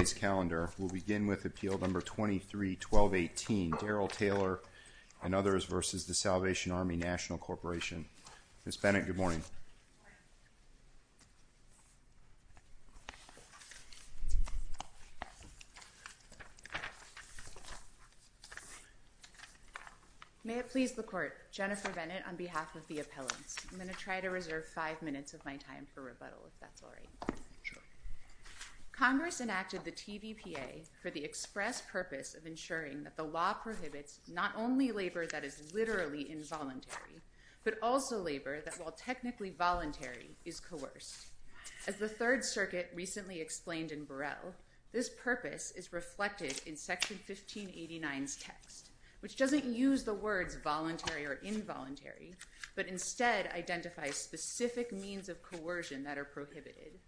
Ms. Bennett, good morning. May it please the Court, Jennifer Bennett on behalf of the appellants. I'm going to try to reserve five minutes of my time for rebuttal if that's all right. Congress enacted the TVPA for the express purpose of ensuring that the law prohibits not only labor that is literally involuntary, but also labor that while technically voluntary is coerced. As the Third Circuit recently explained in Burrell, this purpose is reflected in Section 1589's text, which doesn't use the words voluntary or involuntary, but instead identifies specific means of coercion that are prohibited.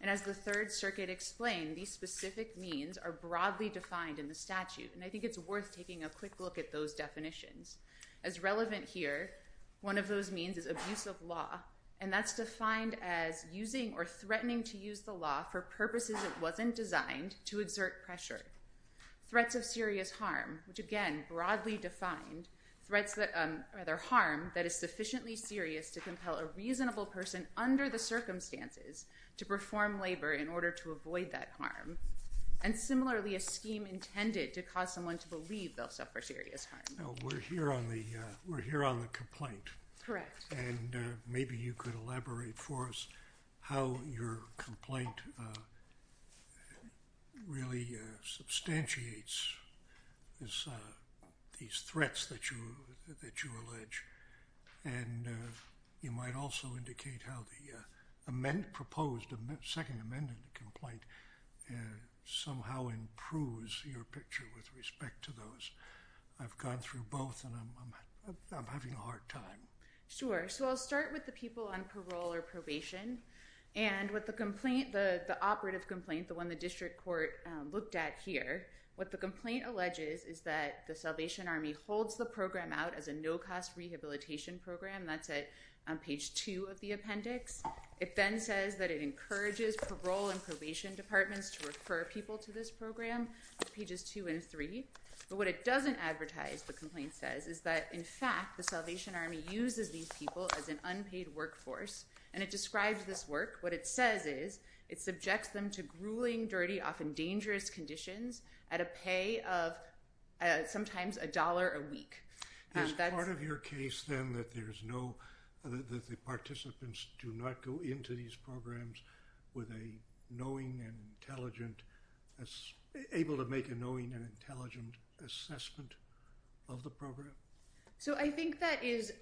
And as the Third Circuit explained, these specific means are broadly defined in the statute, and I think it's worth taking a quick look at those definitions. As relevant here, one of those means is abuse of law, and that's defined as using or threatening to use the law for purposes it wasn't designed to exert pressure. Threats of serious harm, which again, broadly defined, threats that, rather harm that is sufficiently serious to compel a reasonable person under the circumstances to perform labor in order to avoid that harm. And similarly, a scheme intended to cause someone to believe they'll suffer serious harm. We're here on the complaint. Correct. And maybe you could elaborate for us how your complaint really substantiates these threats that you allege. And you might also indicate how the second amended complaint somehow improves your picture with respect to those. I've gone through both, and I'm having a hard time. Sure. So I'll start with the people on parole or probation. And with the complaint, the operative complaint, the one the district court looked at here, what the complaint alleges is that the Salvation Army holds the program out as a no-cost rehabilitation program. That's at page 2 of the appendix. It then says that it encourages parole and probation departments to refer people to this program at pages 2 and 3. But what it doesn't advertise, the complaint says, is that, in fact, the Salvation Army uses these people as an unpaid workforce. And it describes this work. What it says is it subjects them to grueling, dirty, often dangerous conditions at a pay of sometimes a dollar a week. Is part of your case, then, that the participants do not go into these programs with a knowing and intelligent, able to make a knowing and intelligent assessment of the program? So I think that is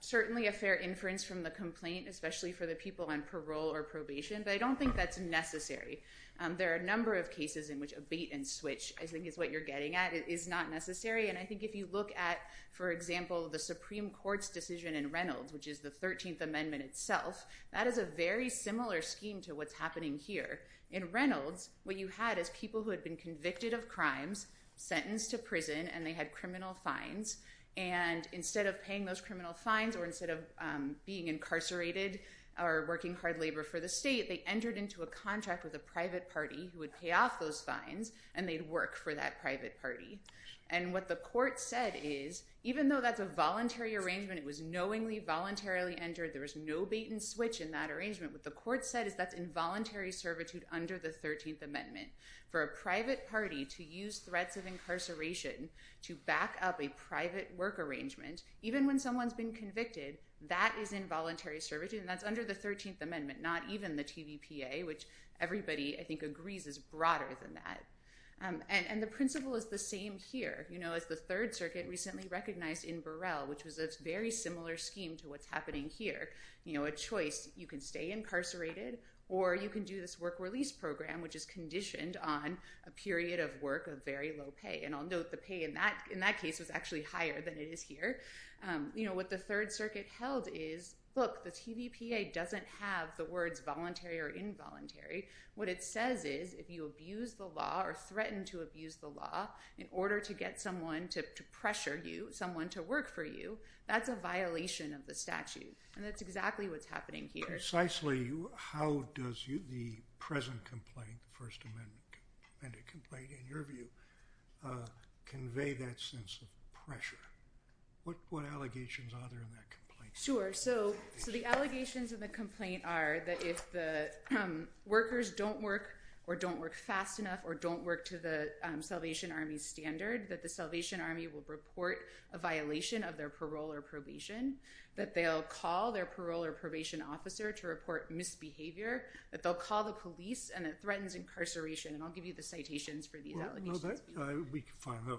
certainly a fair inference from the complaint, especially for the people on parole or probation. But I don't think that's necessary. There are a number of cases in which a bait and switch, I think, is what you're getting at. It is not necessary. And I think if you look at, for example, the Supreme Court's decision in Reynolds, which is the 13th Amendment itself, that is a very similar scheme to what's happening here. In Reynolds, what you had is people who had been convicted of crimes, sentenced to prison, and they had criminal fines. And instead of paying those criminal fines or instead of being incarcerated or working hard labor for the state, they entered into a contract with a private party who would pay off those fines. And they'd work for that private party. And what the court said is, even though that's a voluntary arrangement, it was knowingly, voluntarily entered, there was no bait and switch in that arrangement. What the court said is that's involuntary servitude under the 13th Amendment. For a private party to use threats of incarceration to back up a private work arrangement, even when someone's been convicted, that is involuntary servitude. And that's under the 13th Amendment, not even the TVPA, which everybody, I think, agrees is broader than that. And the principle is the same here. As the Third Circuit recently recognized in Burrell, which was a very similar scheme to what's happening here, a choice. You can stay incarcerated or you can do this work release program, which is conditioned on a period of work of very low pay. And I'll note the pay in that case was actually higher than it is here. What the Third Circuit held is, look, the TVPA doesn't have the words voluntary or involuntary. What it says is if you abuse the law or threaten to abuse the law in order to get someone to pressure you, someone to work for you, that's a violation of the statute. And that's exactly what's happening here. Precisely, how does the present complaint, First Amendment complaint, in your view, convey that sense of pressure? Sure. So the allegations in the complaint are that if the workers don't work or don't work fast enough or don't work to the Salvation Army's standard, that the Salvation Army will report a violation of their parole or probation, that they'll call their parole or probation officer to report misbehavior, that they'll call the police and it threatens incarceration. And I'll give you the citations for these allegations.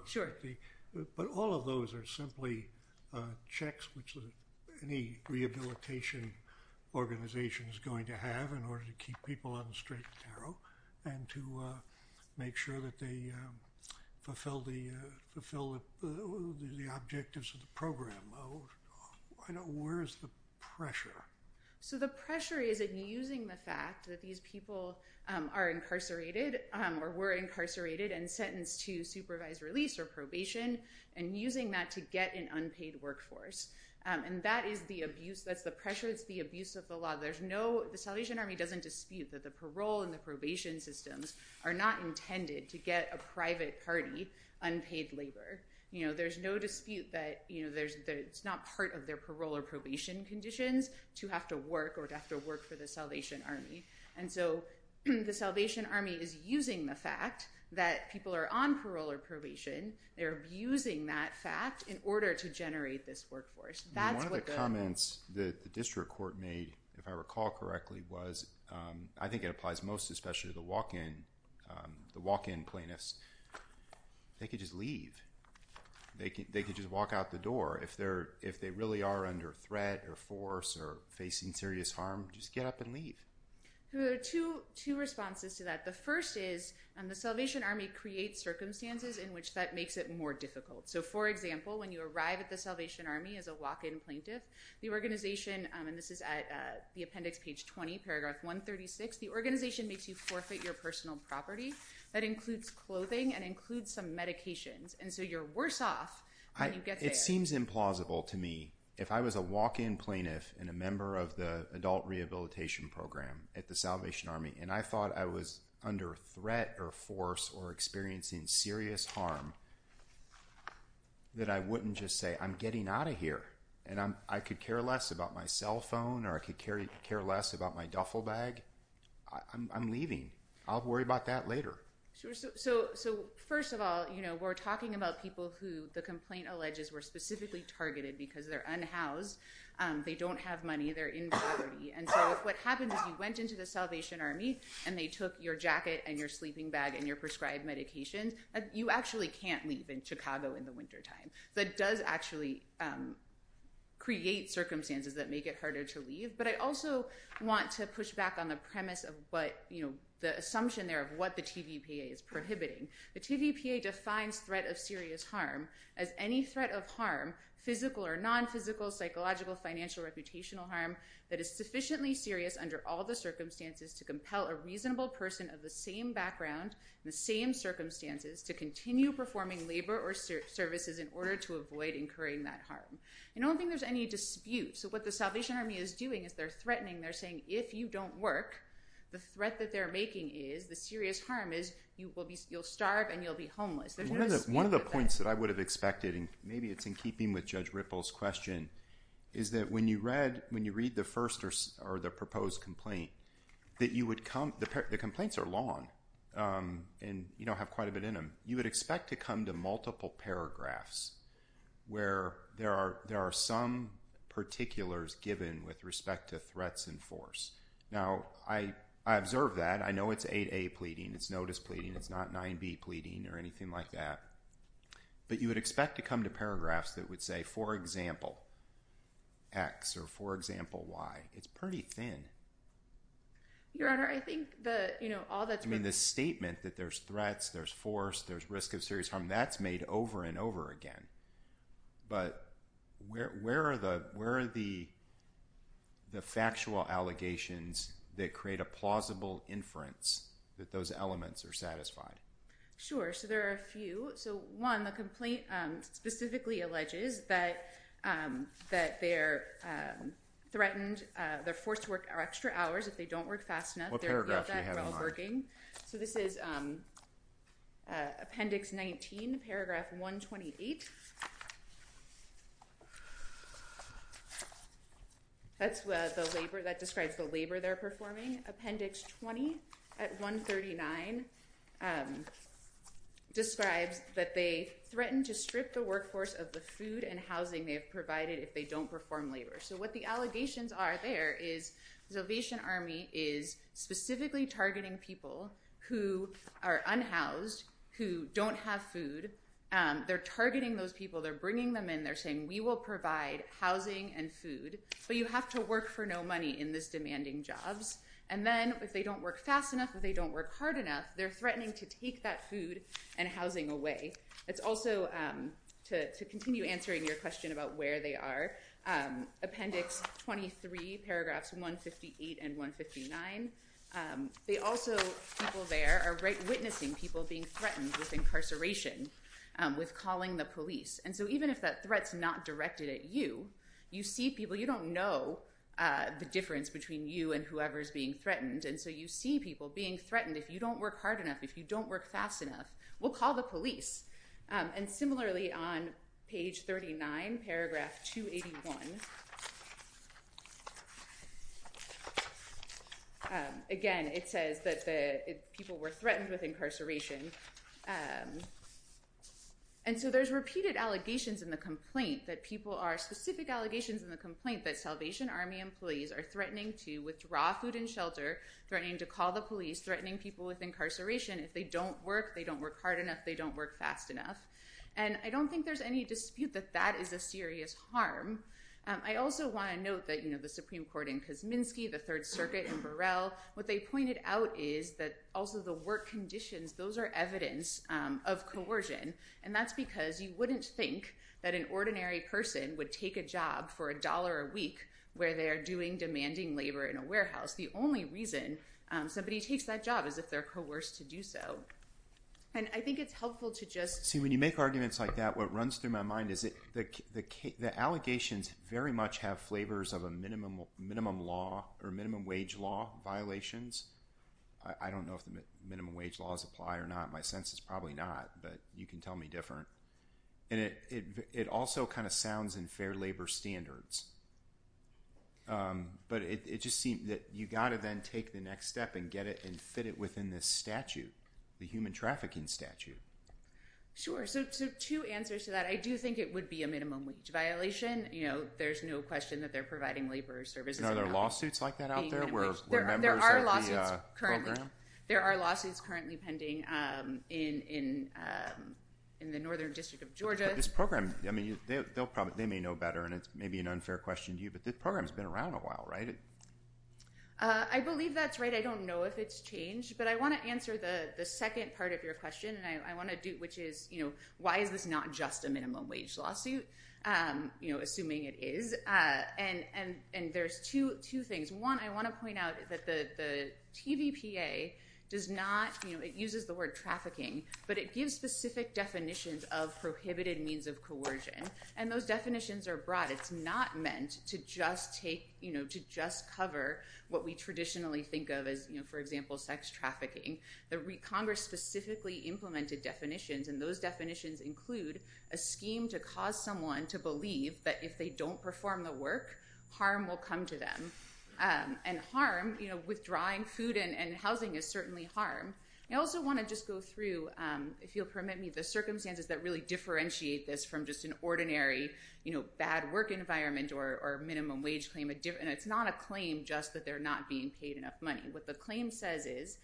Sure. But all of those are simply checks which any rehabilitation organization is going to have in order to keep people on the straight and narrow and to make sure that they fulfill the objectives of the program. Where is the pressure? So the pressure is in using the fact that these people are incarcerated or were incarcerated and sentenced to supervised release or probation and using that to get an unpaid workforce. And that is the abuse. That's the pressure. It's the abuse of the law. The Salvation Army doesn't dispute that the parole and the probation systems are not intended to get a private party unpaid labor. There's no dispute that it's not part of their parole or probation conditions to have to work or to have to work for the Salvation Army. And so the Salvation Army is using the fact that people are on parole or probation. They're abusing that fact in order to generate this workforce. One of the comments that the district court made, if I recall correctly, was I think it applies most especially to the walk-in plaintiffs. They could just leave. They could just walk out the door. If they really are under threat or force or facing serious harm, just get up and leave. There are two responses to that. The first is the Salvation Army creates circumstances in which that makes it more difficult. So, for example, when you arrive at the Salvation Army as a walk-in plaintiff, the organization—and this is at the appendix, page 20, paragraph 136— the organization makes you forfeit your personal property. That includes clothing and includes some medications. And so you're worse off when you get there. It seems implausible to me. If I was a walk-in plaintiff and a member of the adult rehabilitation program at the Salvation Army, and I thought I was under threat or force or experiencing serious harm, that I wouldn't just say, I'm getting out of here. And I could care less about my cell phone or I could care less about my duffel bag. I'm leaving. I'll worry about that later. So, first of all, we're talking about people who the complaint alleges were specifically targeted because they're unhoused. They don't have money. They're in poverty. And so if what happens is you went into the Salvation Army and they took your jacket and your sleeping bag and your prescribed medications, you actually can't leave in Chicago in the wintertime. That does actually create circumstances that make it harder to leave. But I also want to push back on the premise of what—the assumption there of what the TVPA is prohibiting. The TVPA defines threat of serious harm as any threat of harm, physical or non-physical, psychological, financial, or reputational harm that is sufficiently serious under all the circumstances to compel a reasonable person of the same background, the same circumstances, to continue performing labor or services in order to avoid incurring that harm. I don't think there's any dispute. So what the Salvation Army is doing is they're threatening. They're saying if you don't work, the threat that they're making is, the serious harm is, you'll starve and you'll be homeless. There's no dispute about that. One of the points that I would have expected, and maybe it's in keeping with Judge Ripple's question, is that when you read the first or the proposed complaint, that you would come—the complaints are long and have quite a bit in them. You would expect to come to multiple paragraphs where there are some particulars given with respect to threats in force. Now, I observe that. I know it's 8A pleading. It's notice pleading. It's not 9B pleading or anything like that. But you would expect to come to paragraphs that would say, for example, X or for example, Y. It's pretty thin. Your Honor, I think that all that's been— I mean the statement that there's threats, there's force, there's risk of serious harm, that's made over and over again. But where are the factual allegations that create a plausible inference that those elements are satisfied? Sure. So there are a few. So one, the complaint specifically alleges that they're threatened, they're forced to work extra hours if they don't work fast enough. What paragraph do you have in mind? So this is Appendix 19, Paragraph 128. That describes the labor they're performing. Appendix 20 at 139 describes that they threaten to strip the workforce of the food and housing they have provided if they don't perform labor. So what the allegations are there is the Salvation Army is specifically targeting people who are unhoused, who don't have food. They're targeting those people. They're bringing them in. They're saying, we will provide housing and food, but you have to work for no money in this demanding jobs. And then if they don't work fast enough, if they don't work hard enough, they're threatening to take that food and housing away. It's also, to continue answering your question about where they are, Appendix 23, Paragraphs 158 and 159, they also, people there are witnessing people being threatened with incarceration, with calling the police. And so even if that threat's not directed at you, you see people, you don't know the difference between you and whoever's being threatened. And so you see people being threatened. If you don't work hard enough, if you don't work fast enough, we'll call the police. And similarly, on page 39, Paragraph 281, again, it says that the people were threatened with incarceration. And so there's repeated allegations in the complaint that people are, specific allegations in the complaint that Salvation Army employees are threatening to withdraw food and shelter, threatening to call the police, threatening people with incarceration. If they don't work, they don't work hard enough, they don't work fast enough. And I don't think there's any dispute that that is a serious harm. I also want to note that, you know, the Supreme Court in Kosminski, the Third Circuit in Burrell, what they pointed out is that also the work conditions, those are evidence of coercion. And that's because you wouldn't think that an ordinary person would take a job for a dollar a week where they are doing demanding labor in a warehouse. The only reason somebody takes that job is if they're coerced to do so. And I think it's helpful to just— See, when you make arguments like that, what runs through my mind is that the allegations very much have flavors of a minimum law or minimum wage law violations. I don't know if the minimum wage laws apply or not. My sense is probably not, but you can tell me different. And it also kind of sounds in fair labor standards. But it just seems that you've got to then take the next step and get it and fit it within this statute, the human trafficking statute. Sure. So two answers to that. I do think it would be a minimum wage violation. You know, there's no question that they're providing labor services. And are there lawsuits like that out there where members of the program— They may know better, and it may be an unfair question to you, but the program has been around a while, right? I believe that's right. I don't know if it's changed. But I want to answer the second part of your question, which is why is this not just a minimum wage lawsuit, assuming it is. And there's two things. One, I want to point out that the TVPA does not—it uses the word trafficking, but it gives specific definitions of prohibited means of coercion. And those definitions are broad. It's not meant to just cover what we traditionally think of as, for example, sex trafficking. Congress specifically implemented definitions, and those definitions include a scheme to cause someone to believe that if they don't perform the work, harm will come to them. And harm—withdrawing food and housing is certainly harm. I also want to just go through, if you'll permit me, the circumstances that really differentiate this from just an ordinary bad work environment or minimum wage claim. And it's not a claim just that they're not being paid enough money. What the claim says is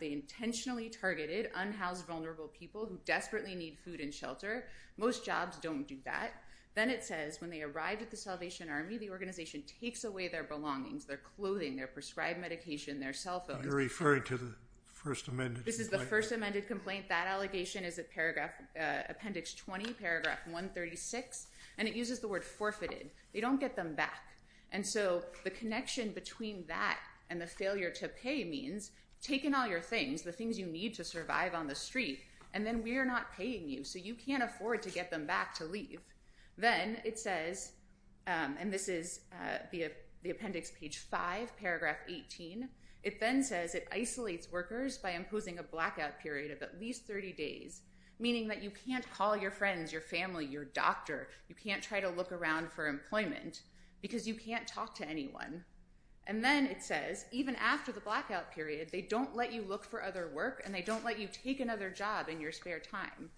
they intentionally targeted unhoused, vulnerable people who desperately need food and shelter. Most jobs don't do that. Then it says when they arrived at the Salvation Army, the organization takes away their belongings, their clothing, their prescribed medication, their cell phones. You're referring to the first amended complaint? This is the first amended complaint. That allegation is at appendix 20, paragraph 136. And it uses the word forfeited. They don't get them back. And so the connection between that and the failure to pay means taking all your things, the things you need to survive on the street, and then we're not paying you. So you can't afford to get them back to leave. Then it says—and this is the appendix, page 5, paragraph 18—it then says it isolates workers by imposing a blackout period of at least 30 days, meaning that you can't call your friends, your family, your doctor. You can't try to look around for employment because you can't talk to anyone. And then it says even after the blackout period, they don't let you look for other work, and they don't let you take another job in your spare time.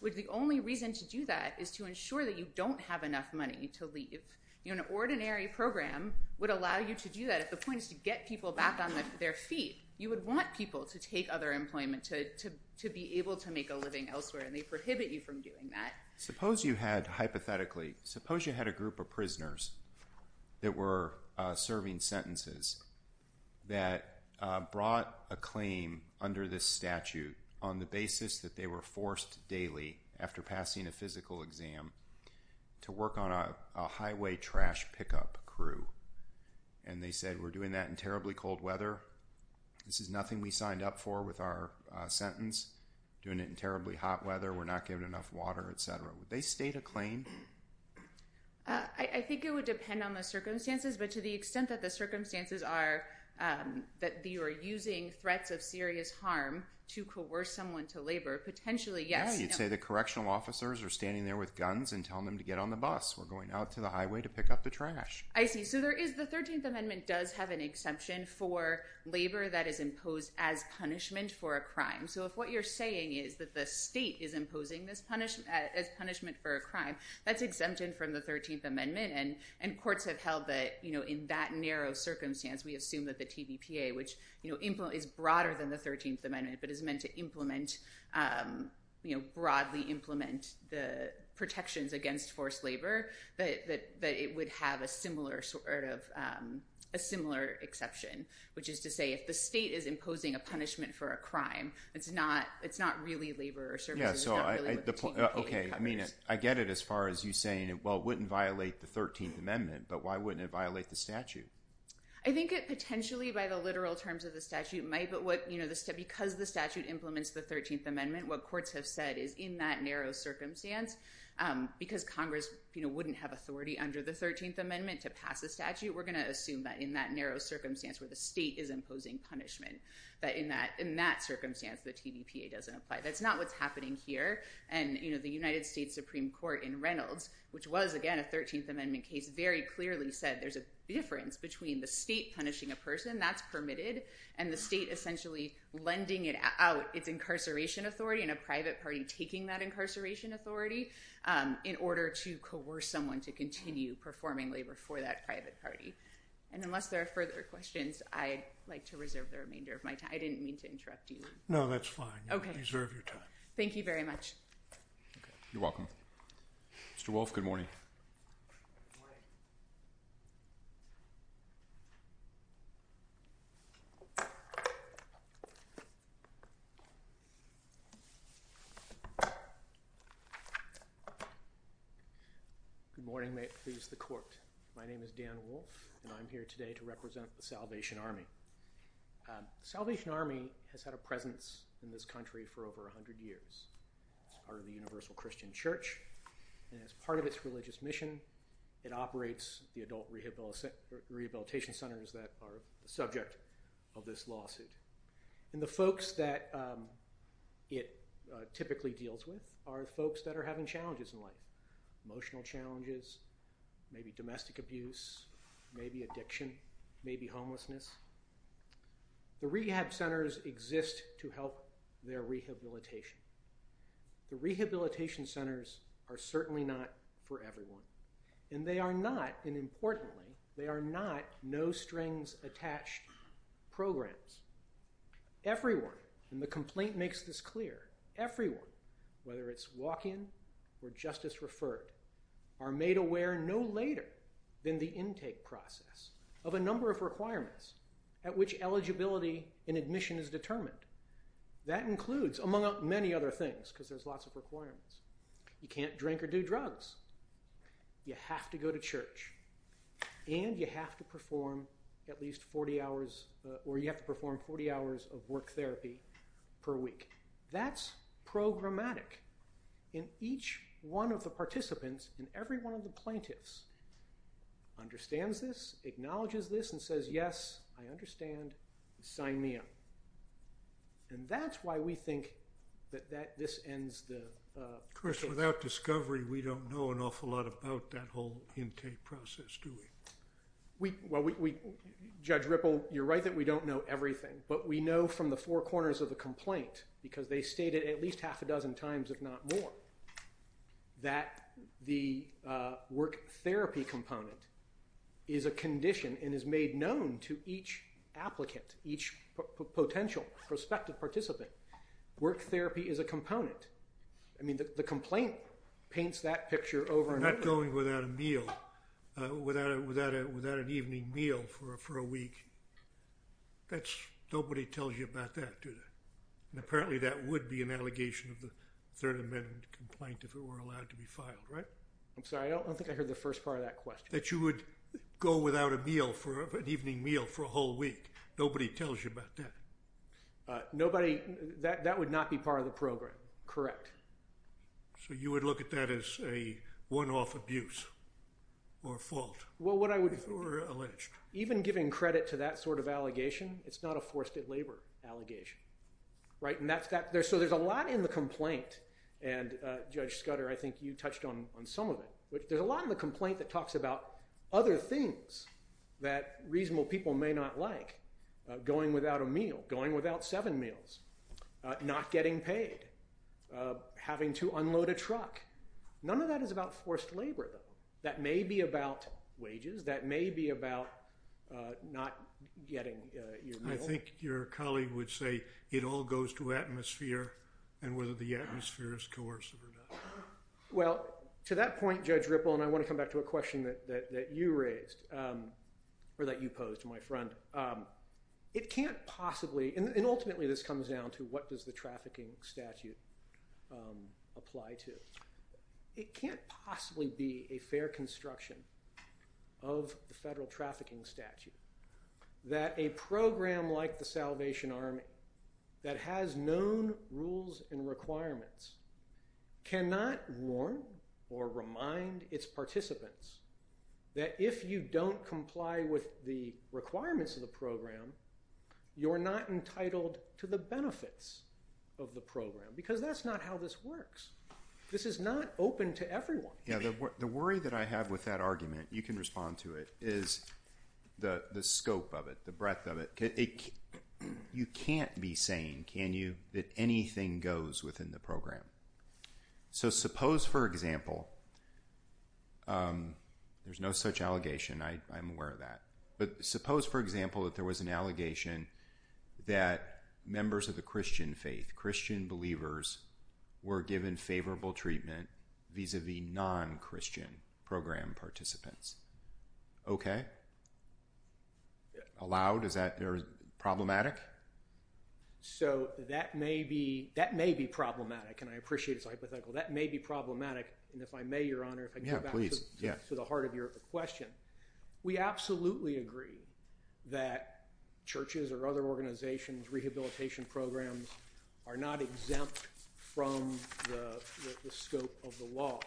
The only reason to do that is to ensure that you don't have enough money to leave. An ordinary program would allow you to do that if the point is to get people back on their feet. You would want people to take other employment, to be able to make a living elsewhere, and they prohibit you from doing that. Suppose you had, hypothetically, suppose you had a group of prisoners that were serving sentences that brought a claim under this statute on the basis that they were forced daily, after passing a physical exam, to work on a highway trash pickup crew. And they said, we're doing that in terribly cold weather. This is nothing we signed up for with our sentence. Doing it in terribly hot weather, we're not getting enough water, etc. Would they state a claim? I think it would depend on the circumstances, but to the extent that the circumstances are that you are using threats of serious harm to coerce someone to labor, potentially, yes. Yeah, you'd say the correctional officers are standing there with guns and telling them to get on the bus. We're going out to the highway to pick up the trash. I see. So the 13th Amendment does have an exception for labor that is imposed as punishment for a crime. So if what you're saying is that the state is imposing this as punishment for a crime, that's exempted from the 13th Amendment. And courts have held that in that narrow circumstance, we assume that the TVPA, which is broader than the 13th Amendment, but is meant to broadly implement the protections against forced labor, that it would have a similar exception. Which is to say, if the state is imposing a punishment for a crime, it's not really labor or services. I get it as far as you saying, well, it wouldn't violate the 13th Amendment, but why wouldn't it violate the statute? I think it potentially, by the literal terms of the statute, might. But because the statute implements the 13th Amendment, what courts have said is in that narrow circumstance, because Congress wouldn't have authority under the 13th Amendment to pass a statute, we're going to assume that in that narrow circumstance where the state is imposing punishment, that in that circumstance, the TVPA doesn't apply. That's not what's happening here. And the United States Supreme Court in Reynolds, which was, again, a 13th Amendment case, very clearly said there's a difference between the state punishing a person, that's permitted, and the state essentially lending out its incarceration authority and a private party taking that incarceration authority in order to coerce someone to continue performing labor for that private party. And unless there are further questions, I'd like to reserve the remainder of my time. I didn't mean to interrupt you. No, that's fine. Okay. You deserve your time. Thank you very much. You're welcome. Mr. Wolfe, good morning. Good morning. Good morning. May it please the Court. My name is Dan Wolfe, and I'm here today to represent the Salvation Army. The Salvation Army has had a presence in this country for over 100 years. It's part of the Universal Christian Church, and as part of its religious mission, it operates the adult rehabilitation centers that are the subject of this lawsuit. And the folks that it typically deals with are folks that are having challenges in life, emotional challenges, maybe domestic abuse, maybe addiction, maybe homelessness. The rehab centers exist to help their rehabilitation. The rehabilitation centers are certainly not for everyone. And they are not, and importantly, they are not no-strings-attached programs. Everyone, and the complaint makes this clear, everyone, whether it's walk-in or justice-referred, are made aware no later than the intake process of a number of requirements at which eligibility and admission is determined. That includes, among many other things, because there's lots of requirements. You can't drink or do drugs. You have to go to church. And you have to perform at least 40 hours, or you have to perform 40 hours of work therapy per week. That's programmatic. And each one of the participants and every one of the plaintiffs understands this, acknowledges this, and says, yes, I understand, sign me up. And that's why we think that this ends the case. Of course, without discovery, we don't know an awful lot about that whole intake process, do we? Well, Judge Ripple, you're right that we don't know everything. But we know from the four corners of the complaint, because they state it at least half a dozen times, if not more, that the work therapy component is a condition and is made known to each applicant, each potential prospective participant. Work therapy is a component. I mean, the complaint paints that picture over and over. If you're going without a meal, without an evening meal for a week, nobody tells you about that, do they? And apparently that would be an allegation of the Third Amendment complaint if it were allowed to be filed, right? I'm sorry. I don't think I heard the first part of that question. That you would go without a meal, an evening meal, for a whole week. Nobody tells you about that. That would not be part of the program. Correct. So you would look at that as a one-off abuse or fault? Well, what I would— If it were alleged. Even giving credit to that sort of allegation, it's not a forced-at-labor allegation, right? And that's that. So there's a lot in the complaint. And, Judge Scudder, I think you touched on some of it. But there's a lot in the complaint that talks about other things that reasonable people may not like. Going without a meal. Going without seven meals. Not getting paid. Having to unload a truck. None of that is about forced labor, though. That may be about wages. That may be about not getting your meal. I think your colleague would say it all goes to atmosphere and whether the atmosphere is coercive or not. Well, to that point, Judge Ripple, and I want to come back to a question that you raised. Or that you posed, my friend. It can't possibly—and ultimately this comes down to what does the trafficking statute apply to? It can't possibly be a fair construction of the federal trafficking statute that a program like the Salvation Army that has known rules and requirements cannot warn or remind its participants that if you don't comply with the requirements of the program, you're not entitled to the benefits of the program. Because that's not how this works. This is not open to everyone. Yeah, the worry that I have with that argument, you can respond to it, is the scope of it. The breadth of it. You can't be saying, can you, that anything goes within the program. So suppose, for example—there's no such allegation. I'm aware of that. But suppose, for example, that there was an allegation that members of the Christian faith, Christian believers, were given favorable treatment vis-a-vis non-Christian program participants. Okay? Allowed? Is that problematic? So that may be problematic, and I appreciate his hypothetical. That may be problematic, and if I may, Your Honor, if I could go back to the heart of your question. We absolutely agree that churches or other organizations, rehabilitation programs, are not exempt from the scope of the law.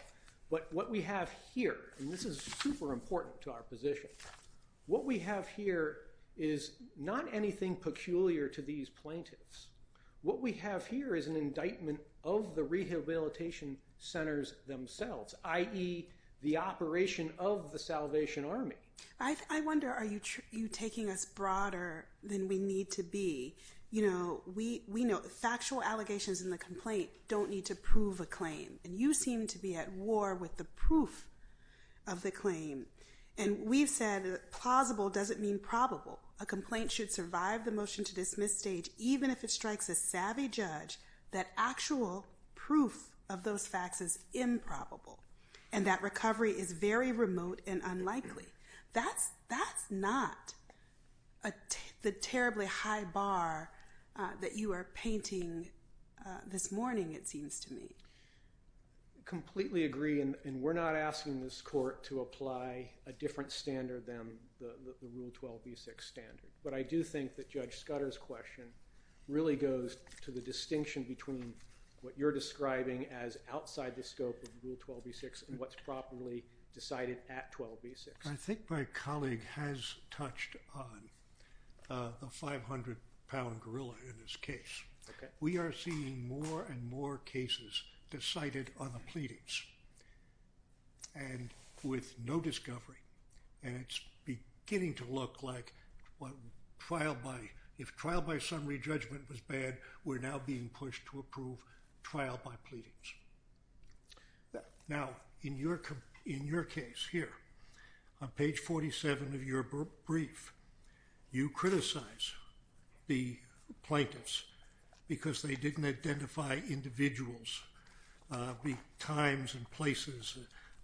But what we have here—and this is super important to our position—what we have here is not anything peculiar to these plaintiffs. What we have here is an indictment of the rehabilitation centers themselves, i.e., the operation of the Salvation Army. I wonder, are you taking us broader than we need to be? You know, we know factual allegations in the complaint don't need to prove a claim. And you seem to be at war with the proof of the claim. And we've said that plausible doesn't mean probable. A complaint should survive the motion-to-dismiss stage even if it strikes a savvy judge that actual proof of those facts is improbable, and that recovery is very remote and unlikely. That's not the terribly high bar that you are painting this morning, it seems to me. I completely agree, and we're not asking this Court to apply a different standard than the Rule 12b-6 standard. But I do think that Judge Scudder's question really goes to the distinction between what you're describing as outside the scope of Rule 12b-6 and what's properly decided at 12b-6. I think my colleague has touched on the 500-pound gorilla in this case. We are seeing more and more cases decided on the pleadings and with no discovery. And it's beginning to look like if trial by summary judgment was bad, we're now being pushed to approve trial by pleadings. Now, in your case here, on page 47 of your brief, you criticize the plaintiffs because they didn't identify individuals, the times and places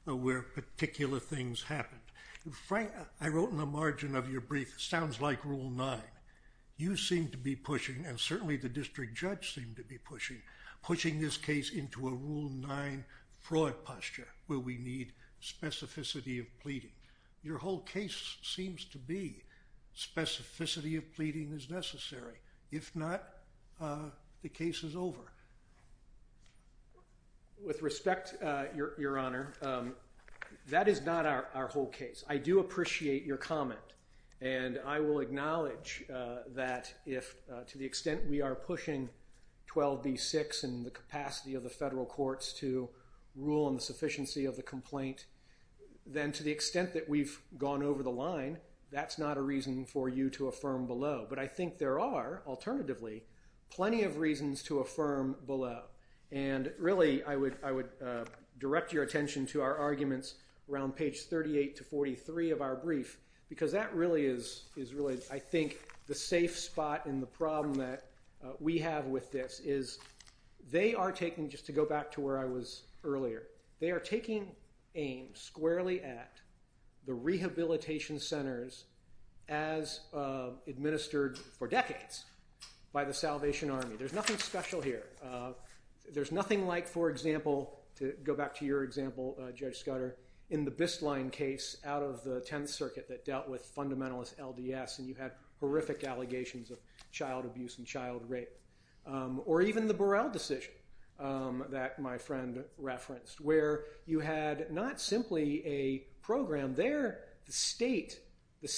where particular things happened. Frank, I wrote in the margin of your brief, it sounds like Rule 9. You seem to be pushing, and certainly the district judge seemed to be pushing, pushing this case into a Rule 9 fraud posture, where we need specificity of pleading. Your whole case seems to be specificity of pleading is necessary. If not, the case is over. With respect, Your Honor, that is not our whole case. I do appreciate your comment, and I will acknowledge that to the extent we are pushing 12b-6 and the capacity of the federal courts to rule on the sufficiency of the complaint, then to the extent that we've gone over the line, that's not a reason for you to affirm below. But I think there are, alternatively, plenty of reasons to affirm below. Really, I would direct your attention to our arguments around page 38-43 of our brief, because that really is, I think, the safe spot in the problem that we have with this. They are taking, just to go back to where I was earlier, they are taking aims squarely at the rehabilitation centers as administered for decades by the Salvation Army. There's nothing special here. There's nothing like, for example, to go back to your example, Judge Scudder, in the Bistline case out of the Tenth Circuit that dealt with fundamentalist LDS, and you had horrific allegations of child abuse and child rape, or even the Burrell decision that my friend referenced, where you had not simply a program there, the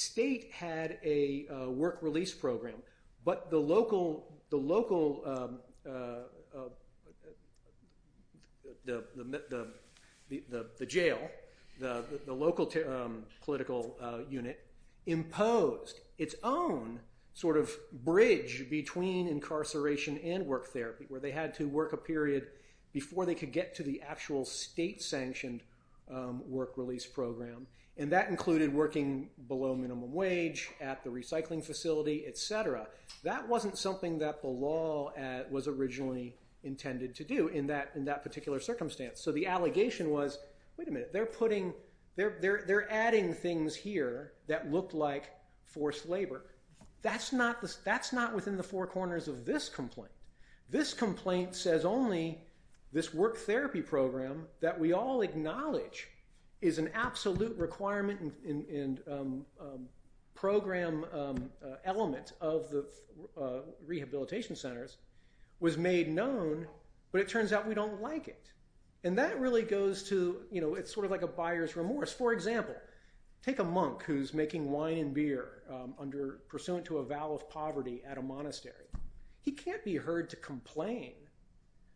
state had a work release program, but the local, the jail, the local political unit imposed its own sort of bridge between incarceration and work therapy, where they had to work a period before they could get to the actual state-sanctioned work release program, and that included working below minimum wage at the recycling facility, et cetera. That wasn't something that the law was originally intended to do in that particular circumstance, so the allegation was, wait a minute, they're adding things here that look like forced labor. That's not within the four corners of this complaint. This complaint says only this work therapy program that we all acknowledge is an absolute requirement and program element of the rehabilitation centers was made known, but it turns out we don't like it, and that really goes to, you know, it's sort of like a buyer's remorse. For example, take a monk who's making wine and beer pursuant to a vow of poverty at a monastery. He can't be heard to complain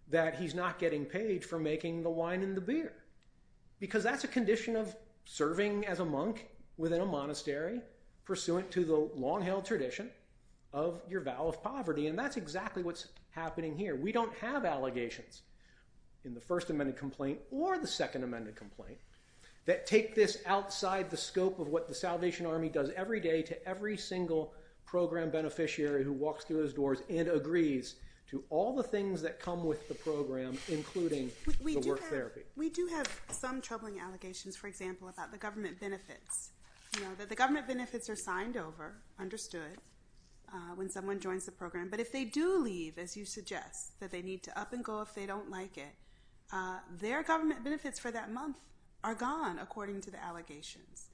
that he's not getting paid for making the wine and the beer, because that's a condition of serving as a monk within a monastery pursuant to the long-held tradition of your vow of poverty, and that's exactly what's happening here. We don't have allegations in the First Amendment complaint or the Second Amendment complaint that take this outside the scope of what the Salvation Army does every day to every single program beneficiary who walks through those doors and agrees to all the things that come with the program, including the work therapy. We do have some troubling allegations, for example, about the government benefits. You know, the government benefits are signed over, understood, when someone joins the program, but if they do leave, as you suggest, that they need to up and go if they don't like it, their government benefits for that month are gone, according to the allegations.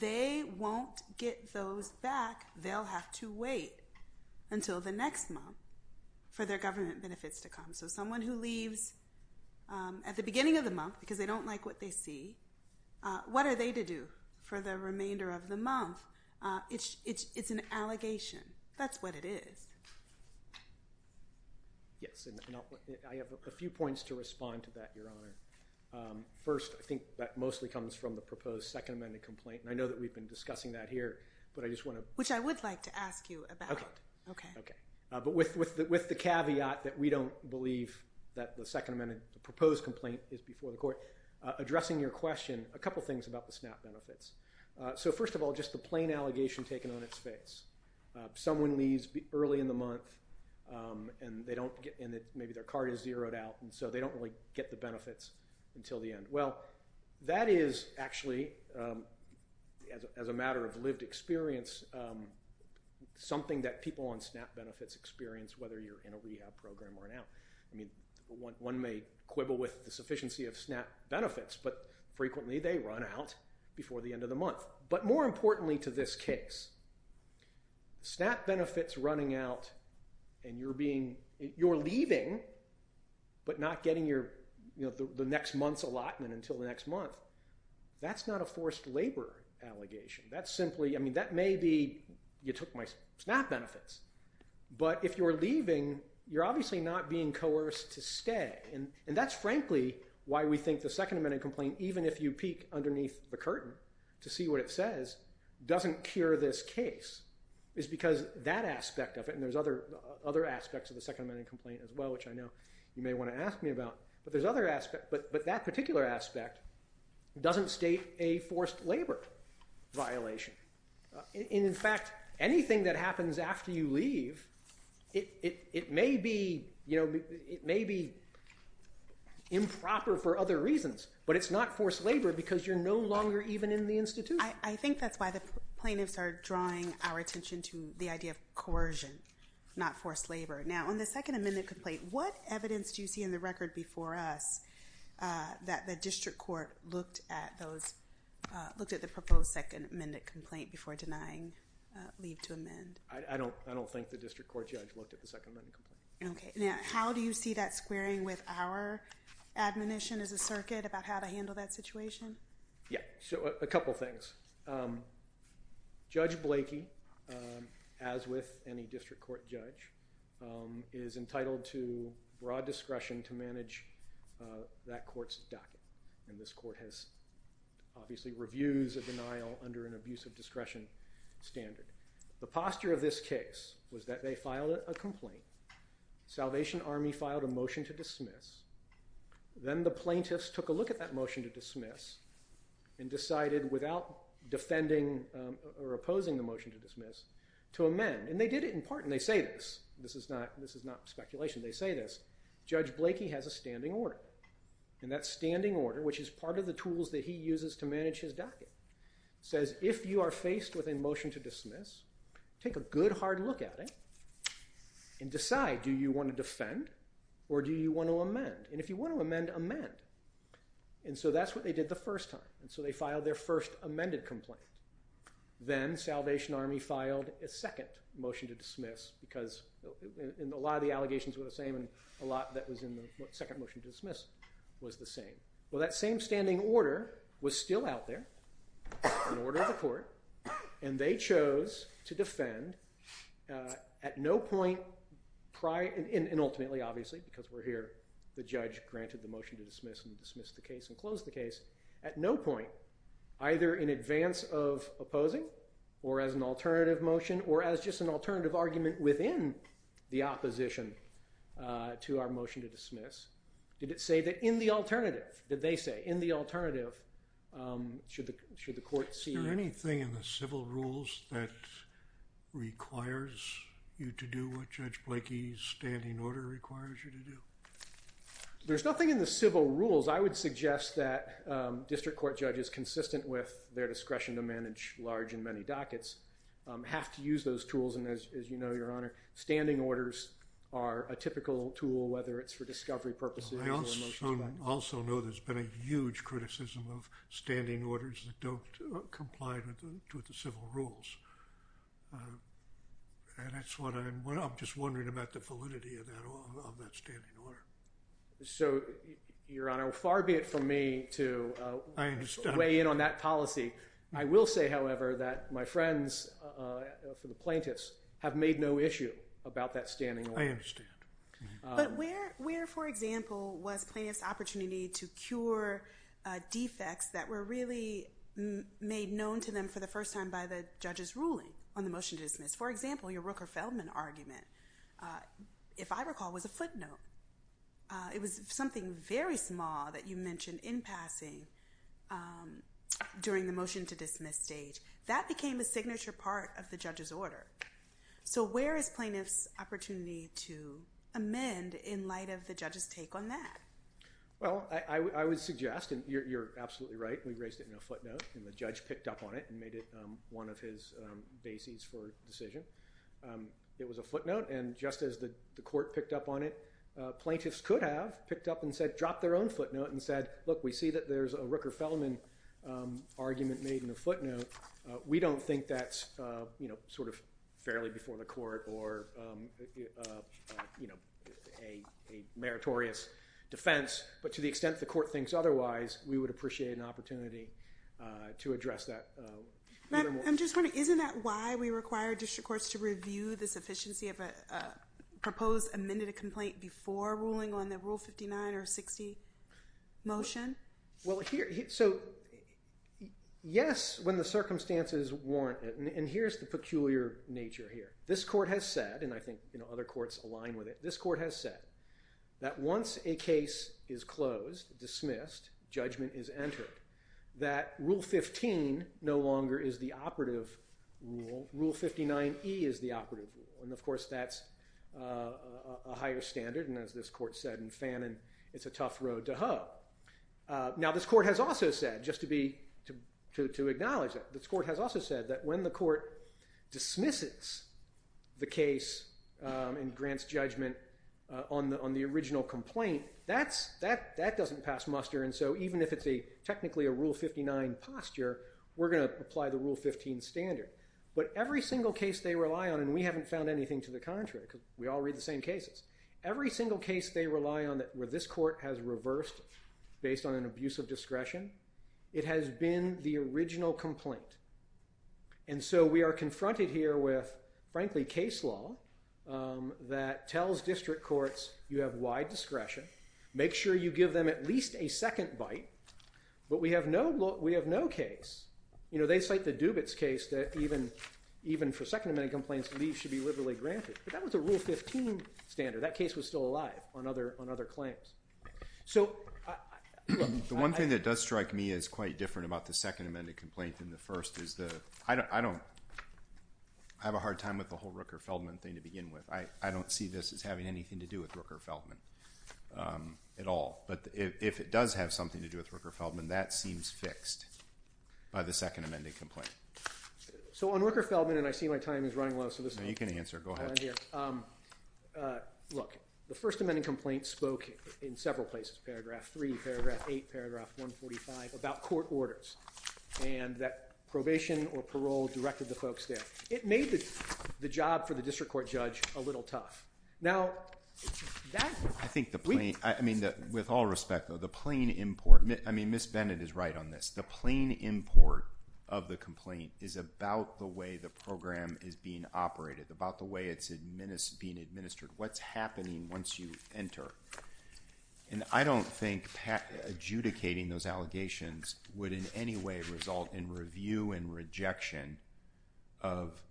They won't get those back. They'll have to wait until the next month for their government benefits to come. So someone who leaves at the beginning of the month because they don't like what they see, what are they to do for the remainder of the month? It's an allegation. That's what it is. Yes, and I have a few points to respond to that, Your Honor. First, I think that mostly comes from the proposed Second Amendment complaint, and I know that we've been discussing that here, but I just want to— Which I would like to ask you about. Okay, but with the caveat that we don't believe that the Second Amendment proposed complaint is before the court, addressing your question, a couple things about the SNAP benefits. So first of all, just the plain allegation taken on its face. Someone leaves early in the month, and maybe their card is zeroed out, and so they don't really get the benefits until the end. Well, that is actually, as a matter of lived experience, something that people on SNAP benefits experience, whether you're in a rehab program or not. I mean, one may quibble with the sufficiency of SNAP benefits, but frequently they run out before the end of the month. But more importantly to this case, SNAP benefits running out, and you're leaving but not getting the next month's allotment until the next month, that's not a forced labor allegation. That may be, you took my SNAP benefits, but if you're leaving, you're obviously not being coerced to stay. And that's frankly why we think the Second Amendment complaint, even if you peek underneath the curtain to see what it says, doesn't cure this case. It's because that aspect of it, and there's other aspects of the Second Amendment complaint as well, which I know you may want to ask me about, but that particular aspect doesn't state a forced labor violation. In fact, anything that happens after you leave, it may be improper for other reasons, but it's not forced labor because you're no longer even in the institution. I think that's why the plaintiffs are drawing our attention to the idea of coercion, not forced labor. Now, on the Second Amendment complaint, what evidence do you see in the record before us that the district court looked at those, looked at the proposed Second Amendment complaint before denying leave to amend? I don't think the district court judge looked at the Second Amendment complaint. Okay. Now, how do you see that squaring with our admonition as a circuit about how to handle that situation? Yeah, so a couple things. Judge Blakey, as with any district court judge, is entitled to broad discretion to manage that court's docket, and this court has obviously reviews of denial under an abuse of discretion standard. The posture of this case was that they filed a complaint. Salvation Army filed a motion to dismiss. Then the plaintiffs took a look at that motion to dismiss and decided, without defending or opposing the motion to dismiss, to amend, and they did it in part, and they say this. This is not speculation. They say this. Judge Blakey has a standing order, and that standing order, which is part of the tools that he uses to manage his docket, says if you are faced with a motion to dismiss, take a good, hard look at it and decide do you want to defend or do you want to amend, and if you want to amend, amend, and so that's what they did the first time, and so they filed their first amended complaint. Then Salvation Army filed a second motion to dismiss because a lot of the allegations were the same and a lot that was in the second motion to dismiss was the same. Well, that same standing order was still out there, an order of the court, and they chose to defend at no point prior, and ultimately, obviously, because we're here, the judge granted the motion to dismiss and dismissed the case and closed the case, at no point, either in advance of opposing or as an alternative motion or as just an alternative argument within the opposition to our motion to dismiss, did it say that in the alternative, did they say in the alternative should the court see Is there anything in the civil rules that requires you to do what Judge Blakey's standing order requires you to do? There's nothing in the civil rules. I would suggest that district court judges, consistent with their discretion to manage large and many dockets, have to use those tools, and as you know, Your Honor, standing orders are a typical tool, whether it's for discovery purposes. I also know there's been a huge criticism of standing orders that don't comply with the civil rules, and that's what I'm just wondering about, the validity of that standing order. So, Your Honor, far be it from me to weigh in on that policy. I will say, however, that my friends for the plaintiffs have made no issue about that standing order. I understand. But where, for example, was plaintiffs' opportunity to cure defects that were really made known to them for the first time by the judge's ruling on the motion to dismiss? For example, your Rooker-Feldman argument, if I recall, was a footnote. It was something very small that you mentioned in passing during the motion to dismiss stage. That became a signature part of the judge's order. So where is plaintiffs' opportunity to amend in light of the judge's take on that? Well, I would suggest, and you're absolutely right, we raised it in a footnote, and the judge picked up on it and made it one of his bases for decision. It was a footnote, and just as the court picked up on it, plaintiffs could have picked up and said, dropped their own footnote and said, look, we see that there's a Rooker-Feldman argument made in a footnote. We don't think that's sort of fairly before the court or a meritorious defense. But to the extent the court thinks otherwise, we would appreciate an opportunity to address that. I'm just wondering, isn't that why we require district courts to review the sufficiency of a proposed amended complaint before ruling on the Rule 59 or 60 motion? Well, yes, when the circumstances warrant it. And here's the peculiar nature here. This court has said, and I think other courts align with it, this court has said that once a case is closed, dismissed, judgment is entered, that Rule 15 no longer is the operative rule. Rule 59E is the operative rule. And of course, that's a higher standard. And as this court said in Fanon, it's a tough road to hoe. Now, this court has also said, just to acknowledge that, this court has also said that when the court dismisses the case and grants judgment on the original complaint, that doesn't pass muster. And so even if it's technically a Rule 59 posture, we're going to apply the Rule 15 standard. But every single case they rely on, and we haven't found anything to the contrary because we all read the same cases, every single case they rely on where this court has reversed based on an abuse of discretion, it has been the original complaint. And so we are confronted here with, frankly, case law that tells district courts, you have wide discretion. Make sure you give them at least a second bite. But we have no case. You know, they cite the Dubitz case that even for Second Amendment complaints, leave should be liberally granted. But that was a Rule 15 standard. That case was still alive on other claims. The one thing that does strike me as quite different about the Second Amendment complaint than the first is that I don't have a hard time with the whole Rooker-Feldman thing to begin with. I don't see this as having anything to do with Rooker-Feldman at all. But if it does have something to do with Rooker-Feldman, that seems fixed by the Second Amendment complaint. So on Rooker-Feldman, and I see my time is running low. No, you can answer. Go ahead. Look, the First Amendment complaint spoke in several places, paragraph 3, paragraph 8, paragraph 145, about court orders and that probation or parole directed the folks there. It made the job for the district court judge a little tough. Now, that's weak. I think the plain, I mean, with all respect, though, the plain import, I mean, Ms. Bennett is right on this. The plain import of the complaint is about the way the program is being operated, about the way it's being administered, what's happening once you enter. And I don't think adjudicating those allegations would in any way result in review and rejection of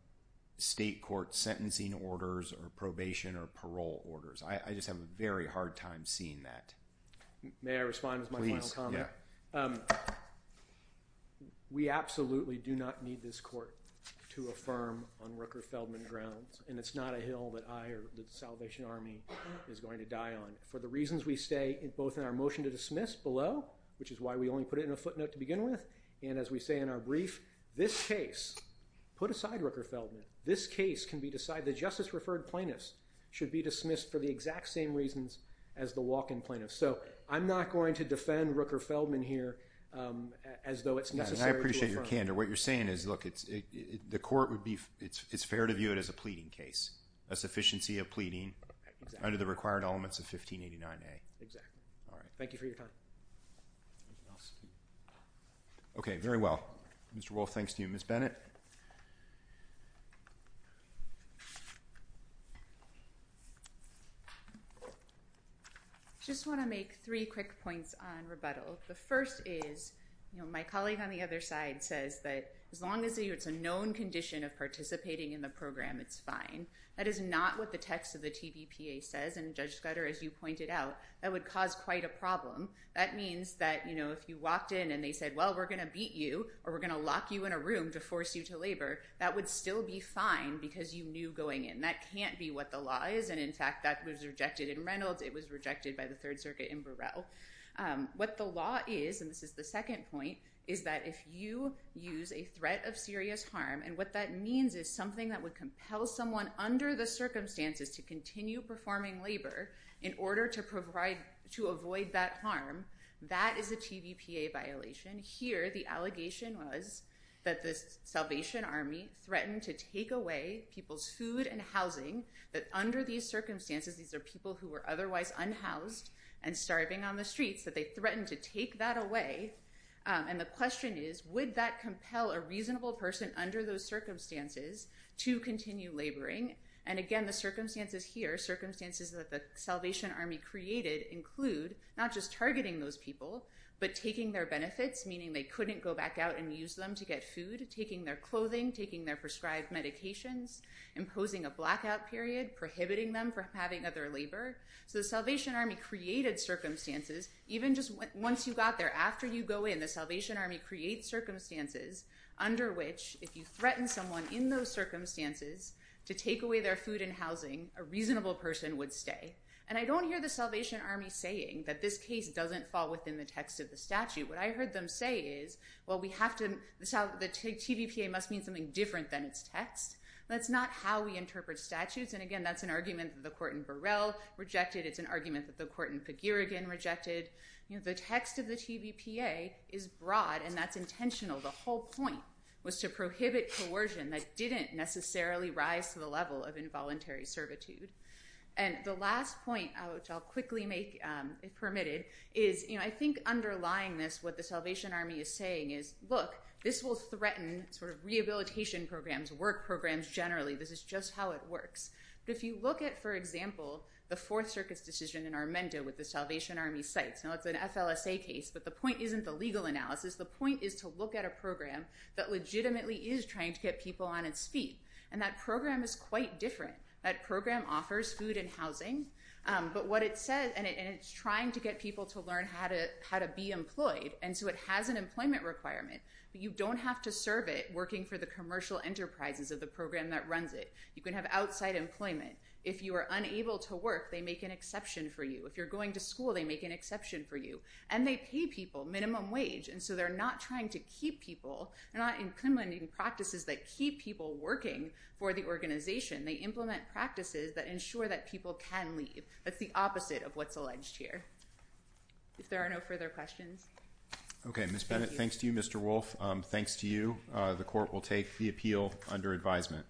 state court sentencing orders or probation or parole orders. I just have a very hard time seeing that. May I respond with my final comment? Please, yeah. We absolutely do not need this court to affirm on Rooker-Feldman grounds. And it's not a hill that I or the Salvation Army is going to die on. For the reasons we state both in our motion to dismiss below, which is why we only put it in a footnote to begin with, and as we say in our brief, this case, put aside Rooker-Feldman, this case can be decided, the justice-referred plaintiff should be dismissed for the exact same reasons as the walk-in plaintiff. So I'm not going to defend Rooker-Feldman here as though it's necessary to affirm. I appreciate your candor. What you're saying is, look, the court would be, it's fair to view it as a pleading case, a sufficiency of pleading under the required elements of 1589A. Exactly. All right, thank you for your time. Anything else? Okay, very well. Mr. Wolf, thanks to you. Ms. Bennett? I just want to make three quick points on rebuttal. The first is, my colleague on the other side says that as long as it's a known condition of participating in the program, it's fine. That is not what the text of the TVPA says, and Judge Scudder, as you pointed out, that would cause quite a problem. That means that if you walked in and they said, well, we're going to beat you, or we're going to lock you in a room to force you to labor, that would still be fine because you knew going in. That can't be what the law is, and in fact, that was rejected in Reynolds. It was rejected by the Third Circuit in Burrell. What the law is, and this is the second point, is that if you use a threat of serious harm, and what that means is something that would compel someone under the circumstances to continue performing labor in order to avoid that harm, that is a TVPA violation. Here, the allegation was that the Salvation Army threatened to take away people's food and housing, that under these circumstances, these are people who were otherwise unhoused and starving on the streets, that they threatened to take that away. And the question is, would that compel a reasonable person under those circumstances to continue laboring? And again, the circumstances here, circumstances that the Salvation Army created, include not just targeting those people, but taking their benefits, meaning they couldn't go back out and use them to get food, taking their clothing, taking their prescribed medications, imposing a blackout period, prohibiting them from having other labor. So the Salvation Army created circumstances. Even just once you got there, after you go in, the Salvation Army creates circumstances under which, if you threaten someone in those circumstances to take away their food and housing, a reasonable person would stay. And I don't hear the Salvation Army saying that this case doesn't fall within the text of the statute. What I heard them say is, well, the TVPA must mean something different than its text. That's not how we interpret statutes. And again, that's an argument that the court in Burrell rejected. It's an argument that the court in Fagirigan rejected. The text of the TVPA is broad, and that's intentional. The whole point was to prohibit coercion that didn't necessarily rise to the level of involuntary servitude. And the last point, which I'll quickly make permitted, is I think underlying this, what the Salvation Army is saying is, look, this will threaten rehabilitation programs, work programs generally. This is just how it works. But if you look at, for example, the Fourth Circus decision in Armenda with the Salvation Army sites. Now, it's an FLSA case, but the point isn't the legal analysis. The point is to look at a program that legitimately is trying to get people on its feet. And that program is quite different. That program offers food and housing. But what it says, and it's trying to get people to learn how to be employed. And so it has an employment requirement. But you don't have to serve it working for the commercial enterprises of the program that runs it. You can have outside employment. If you are unable to work, they make an exception for you. If you're going to school, they make an exception for you. And they pay people minimum wage. And so they're not trying to keep people. They're not implementing practices that keep people working for the organization. They implement practices that ensure that people can leave. That's the opposite of what's alleged here. If there are no further questions. OK, Ms. Bennett, thanks to you, Mr. Wolfe. Thanks to you. The court will take the appeal under advisement.